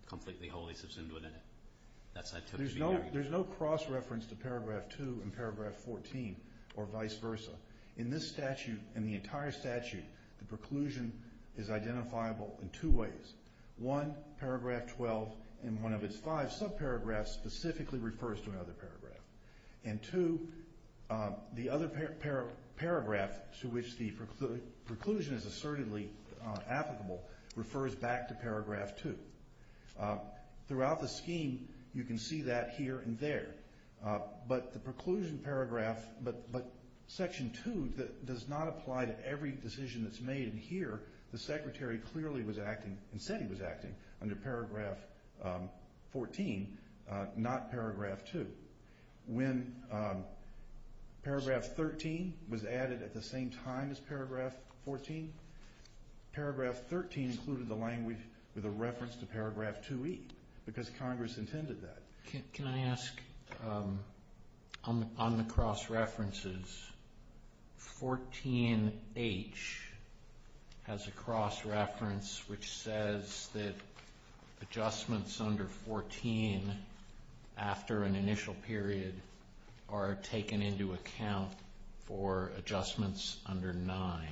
completely wholly subsumed within it. There's no cross-reference to Paragraph 2 and Paragraph 14, or vice versa. In this statute and the entire statute, the preclusion is identifiable in two ways. One, Paragraph 12 in one of its five subparagraphs specifically refers to another paragraph. And two, the other paragraph to which the preclusion is assertedly applicable refers back to Paragraph 2. Throughout the scheme, you can see that here and there, but the preclusion paragraph, but Section 2 does not apply to every decision that's made. And here, the Secretary clearly was acting, and said he was acting, under Paragraph 14, not Paragraph 2. When Paragraph 13 was added at the same time as Paragraph 14, Paragraph 13 included the language with a reference to Paragraph 2E because Congress intended that. Can I ask, on the cross-references, 14H has a cross-reference which says that adjustments under 14, after an initial period, are taken into account for adjustments under 9.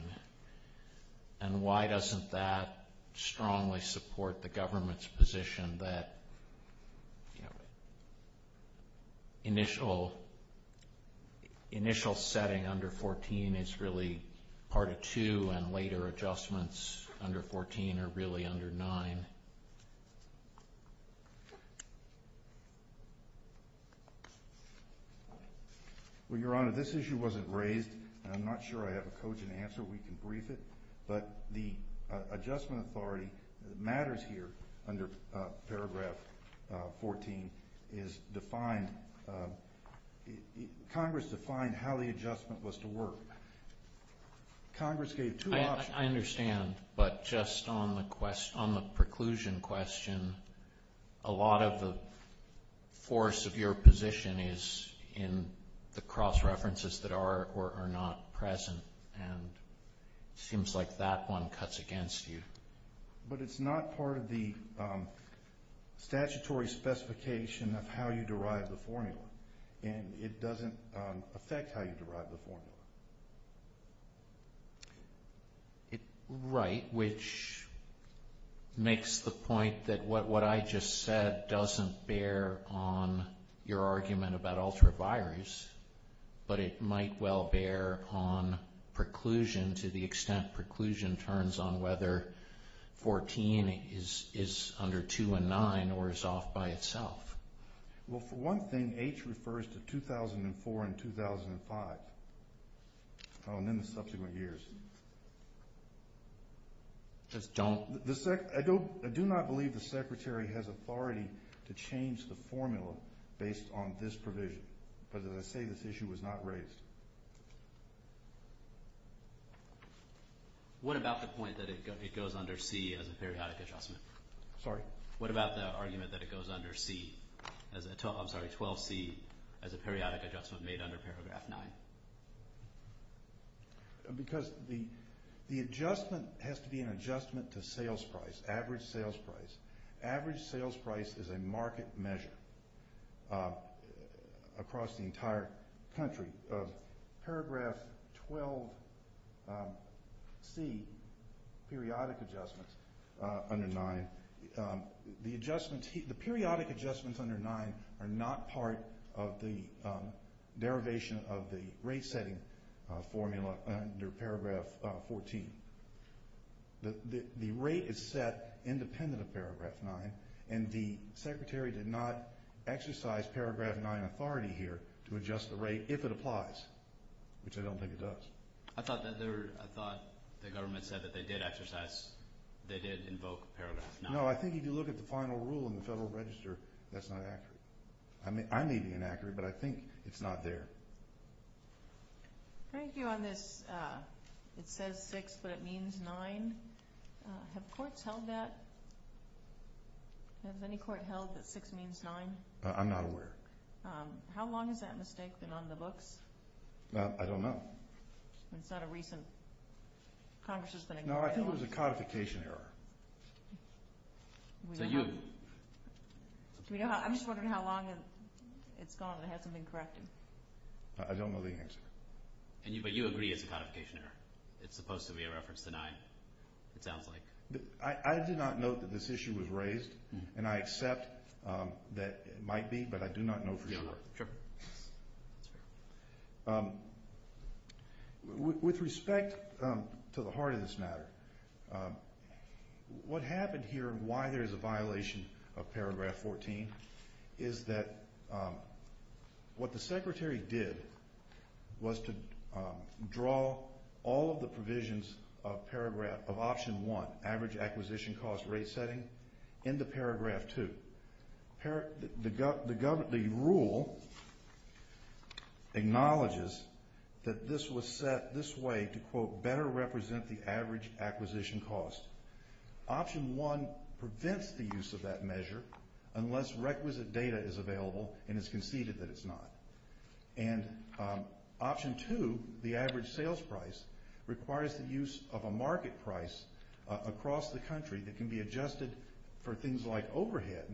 And why doesn't that strongly support the government's position that initial setting under 14 is really part of 2 and later adjustments under 14 are really under 9? Well, Your Honor, this issue wasn't raised, and I'm not sure I have a cogent answer. We can brief it. But the adjustment authority that matters here under Paragraph 14 is defined. Congress defined how the adjustment was to work. Congress gave two options. I understand, but just on the preclusion question, a lot of the force of your position is in the cross-references that are or are not present, and it seems like that one cuts against you. But it's not part of the statutory specification of how you derive the formula, and it doesn't affect how you derive the formula. Right, which makes the point that what I just said doesn't bear on your argument about ultravirus, but it might well bear on preclusion to the extent preclusion turns on whether 14 is under 2 and 9 or is off by itself. Well, for one thing, H refers to 2004 and 2005, and then the subsequent years. Just don't? I do not believe the Secretary has authority to change the formula based on this provision. But as I say, this issue was not raised. What about the point that it goes under C as a periodic adjustment? Sorry? What about the argument that it goes under 12C as a periodic adjustment made under paragraph 9? Because the adjustment has to be an adjustment to sales price, average sales price. Average sales price is a market measure across the entire country. Paragraph 12C, periodic adjustments under 9, the periodic adjustments under 9 are not part of the derivation of the rate-setting formula under paragraph 14. The rate is set independent of paragraph 9, and the Secretary did not exercise paragraph 9 authority here to adjust the rate if it applies, which I don't think it does. I thought the government said that they did invoke paragraph 9. No, I think if you look at the final rule in the Federal Register, that's not accurate. I may be inaccurate, but I think it's not there. Thank you on this. It says 6, but it means 9. Have courts held that? Has any court held that 6 means 9? I'm not aware. How long has that mistake been on the books? I don't know. It's not a recent. Congress has been ignoring it. No, I think it was a codification error. So you? I'm just wondering how long it's gone and it hasn't been corrected. I don't know the answer. But you agree it's a codification error? It's supposed to be a reference to 9, it sounds like. I did not note that this issue was raised, and I accept that it might be, but I do not know for sure. Sure. With respect to the heart of this matter, what happened here and why there is a violation of paragraph 14 is that what the Secretary did was to draw all of the provisions of option 1, average acquisition cost rate setting, into paragraph 2. The rule acknowledges that this was set this way to, quote, better represent the average acquisition cost. Option 1 prevents the use of that measure unless requisite data is available and it's conceded that it's not. And option 2, the average sales price, requires the use of a market price across the country that can be adjusted for things like overhead,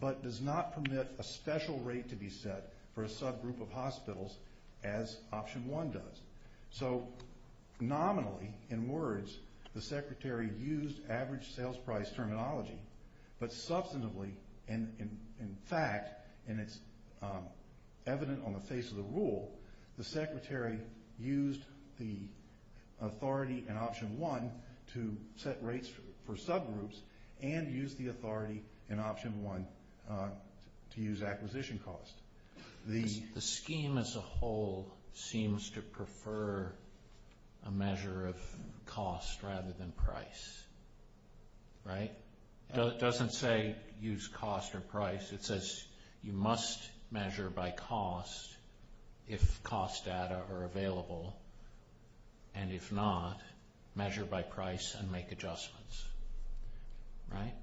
but does not permit a special rate to be set for a subgroup of hospitals as option 1 does. So nominally, in words, the Secretary used average sales price terminology, but substantively, in fact, and it's evident on the face of the rule, the Secretary used the authority in option 1 to set rates for subgroups and used the authority in option 1 to use acquisition cost. The scheme as a whole seems to prefer a measure of cost rather than price, right? It doesn't say use cost or price. It says you must measure by cost if cost data are available, and if not, measure by price and make adjustments, right?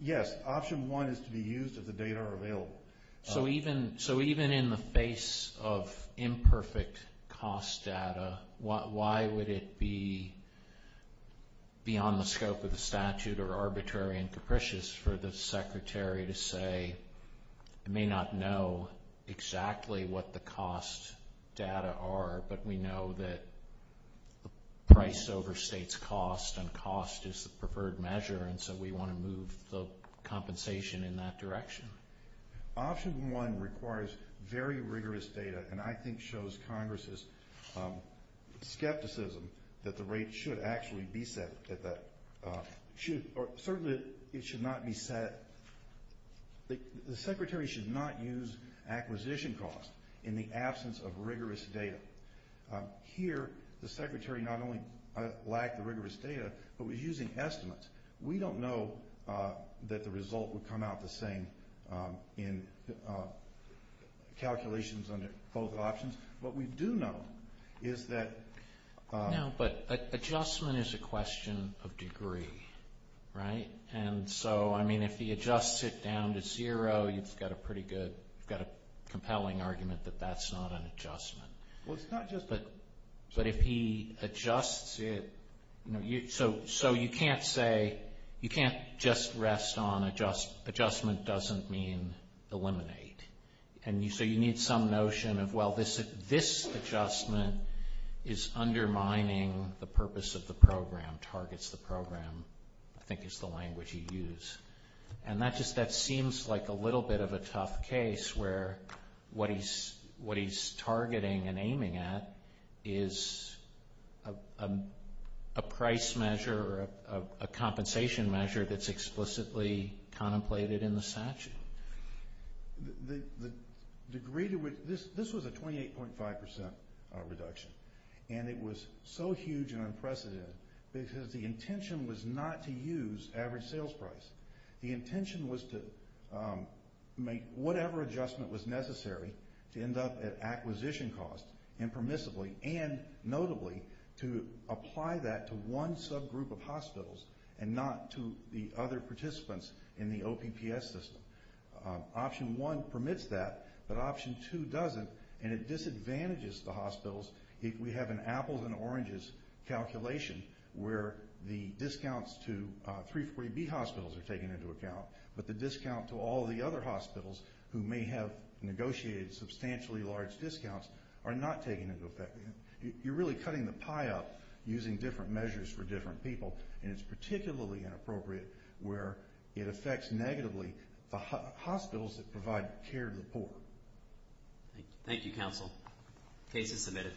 Yes, option 1 is to be used if the data are available. So even in the face of imperfect cost data, why would it be beyond the scope of the statute or arbitrary and capricious for the Secretary to say, I may not know exactly what the cost data are, but we know that price overstates cost and cost is the preferred measure, and so we want to move the compensation in that direction. Option 1 requires very rigorous data and I think shows Congress's skepticism that the rate should actually be set. Certainly, it should not be set. The Secretary should not use acquisition cost in the absence of rigorous data. Here, the Secretary not only lacked the rigorous data but was using estimates. We don't know that the result would come out the same in calculations under both options. What we do know is that- No, but adjustment is a question of degree, right? And so, I mean, if he adjusts it down to zero, you've got a compelling argument that that's not an adjustment. Well, it's not just- But if he adjusts it- So you can't say- You can't just rest on adjustment doesn't mean eliminate. So you need some notion of, well, this adjustment is undermining the purpose of the program, targets the program, I think is the language you use. And that just seems like a little bit of a tough case where what he's targeting and aiming at is a price measure or a compensation measure that's explicitly contemplated in the statute. The degree to which- This was a 28.5% reduction and it was so huge and unprecedented because the intention was not to use average sales price. The intention was to make whatever adjustment was necessary to end up at acquisition costs impermissibly and notably to apply that to one subgroup of hospitals and not to the other participants in the OPPS system. Option one permits that, but option two doesn't, and it disadvantages the hospitals. We have an apples and oranges calculation where the discounts to 340B hospitals are taken into account, but the discount to all the other hospitals who may have negotiated substantially large discounts are not taken into account. You're really cutting the pie up using different measures for different people, and it's particularly inappropriate where it affects negatively the hospitals that provide care to the poor. Thank you, counsel. Case is submitted.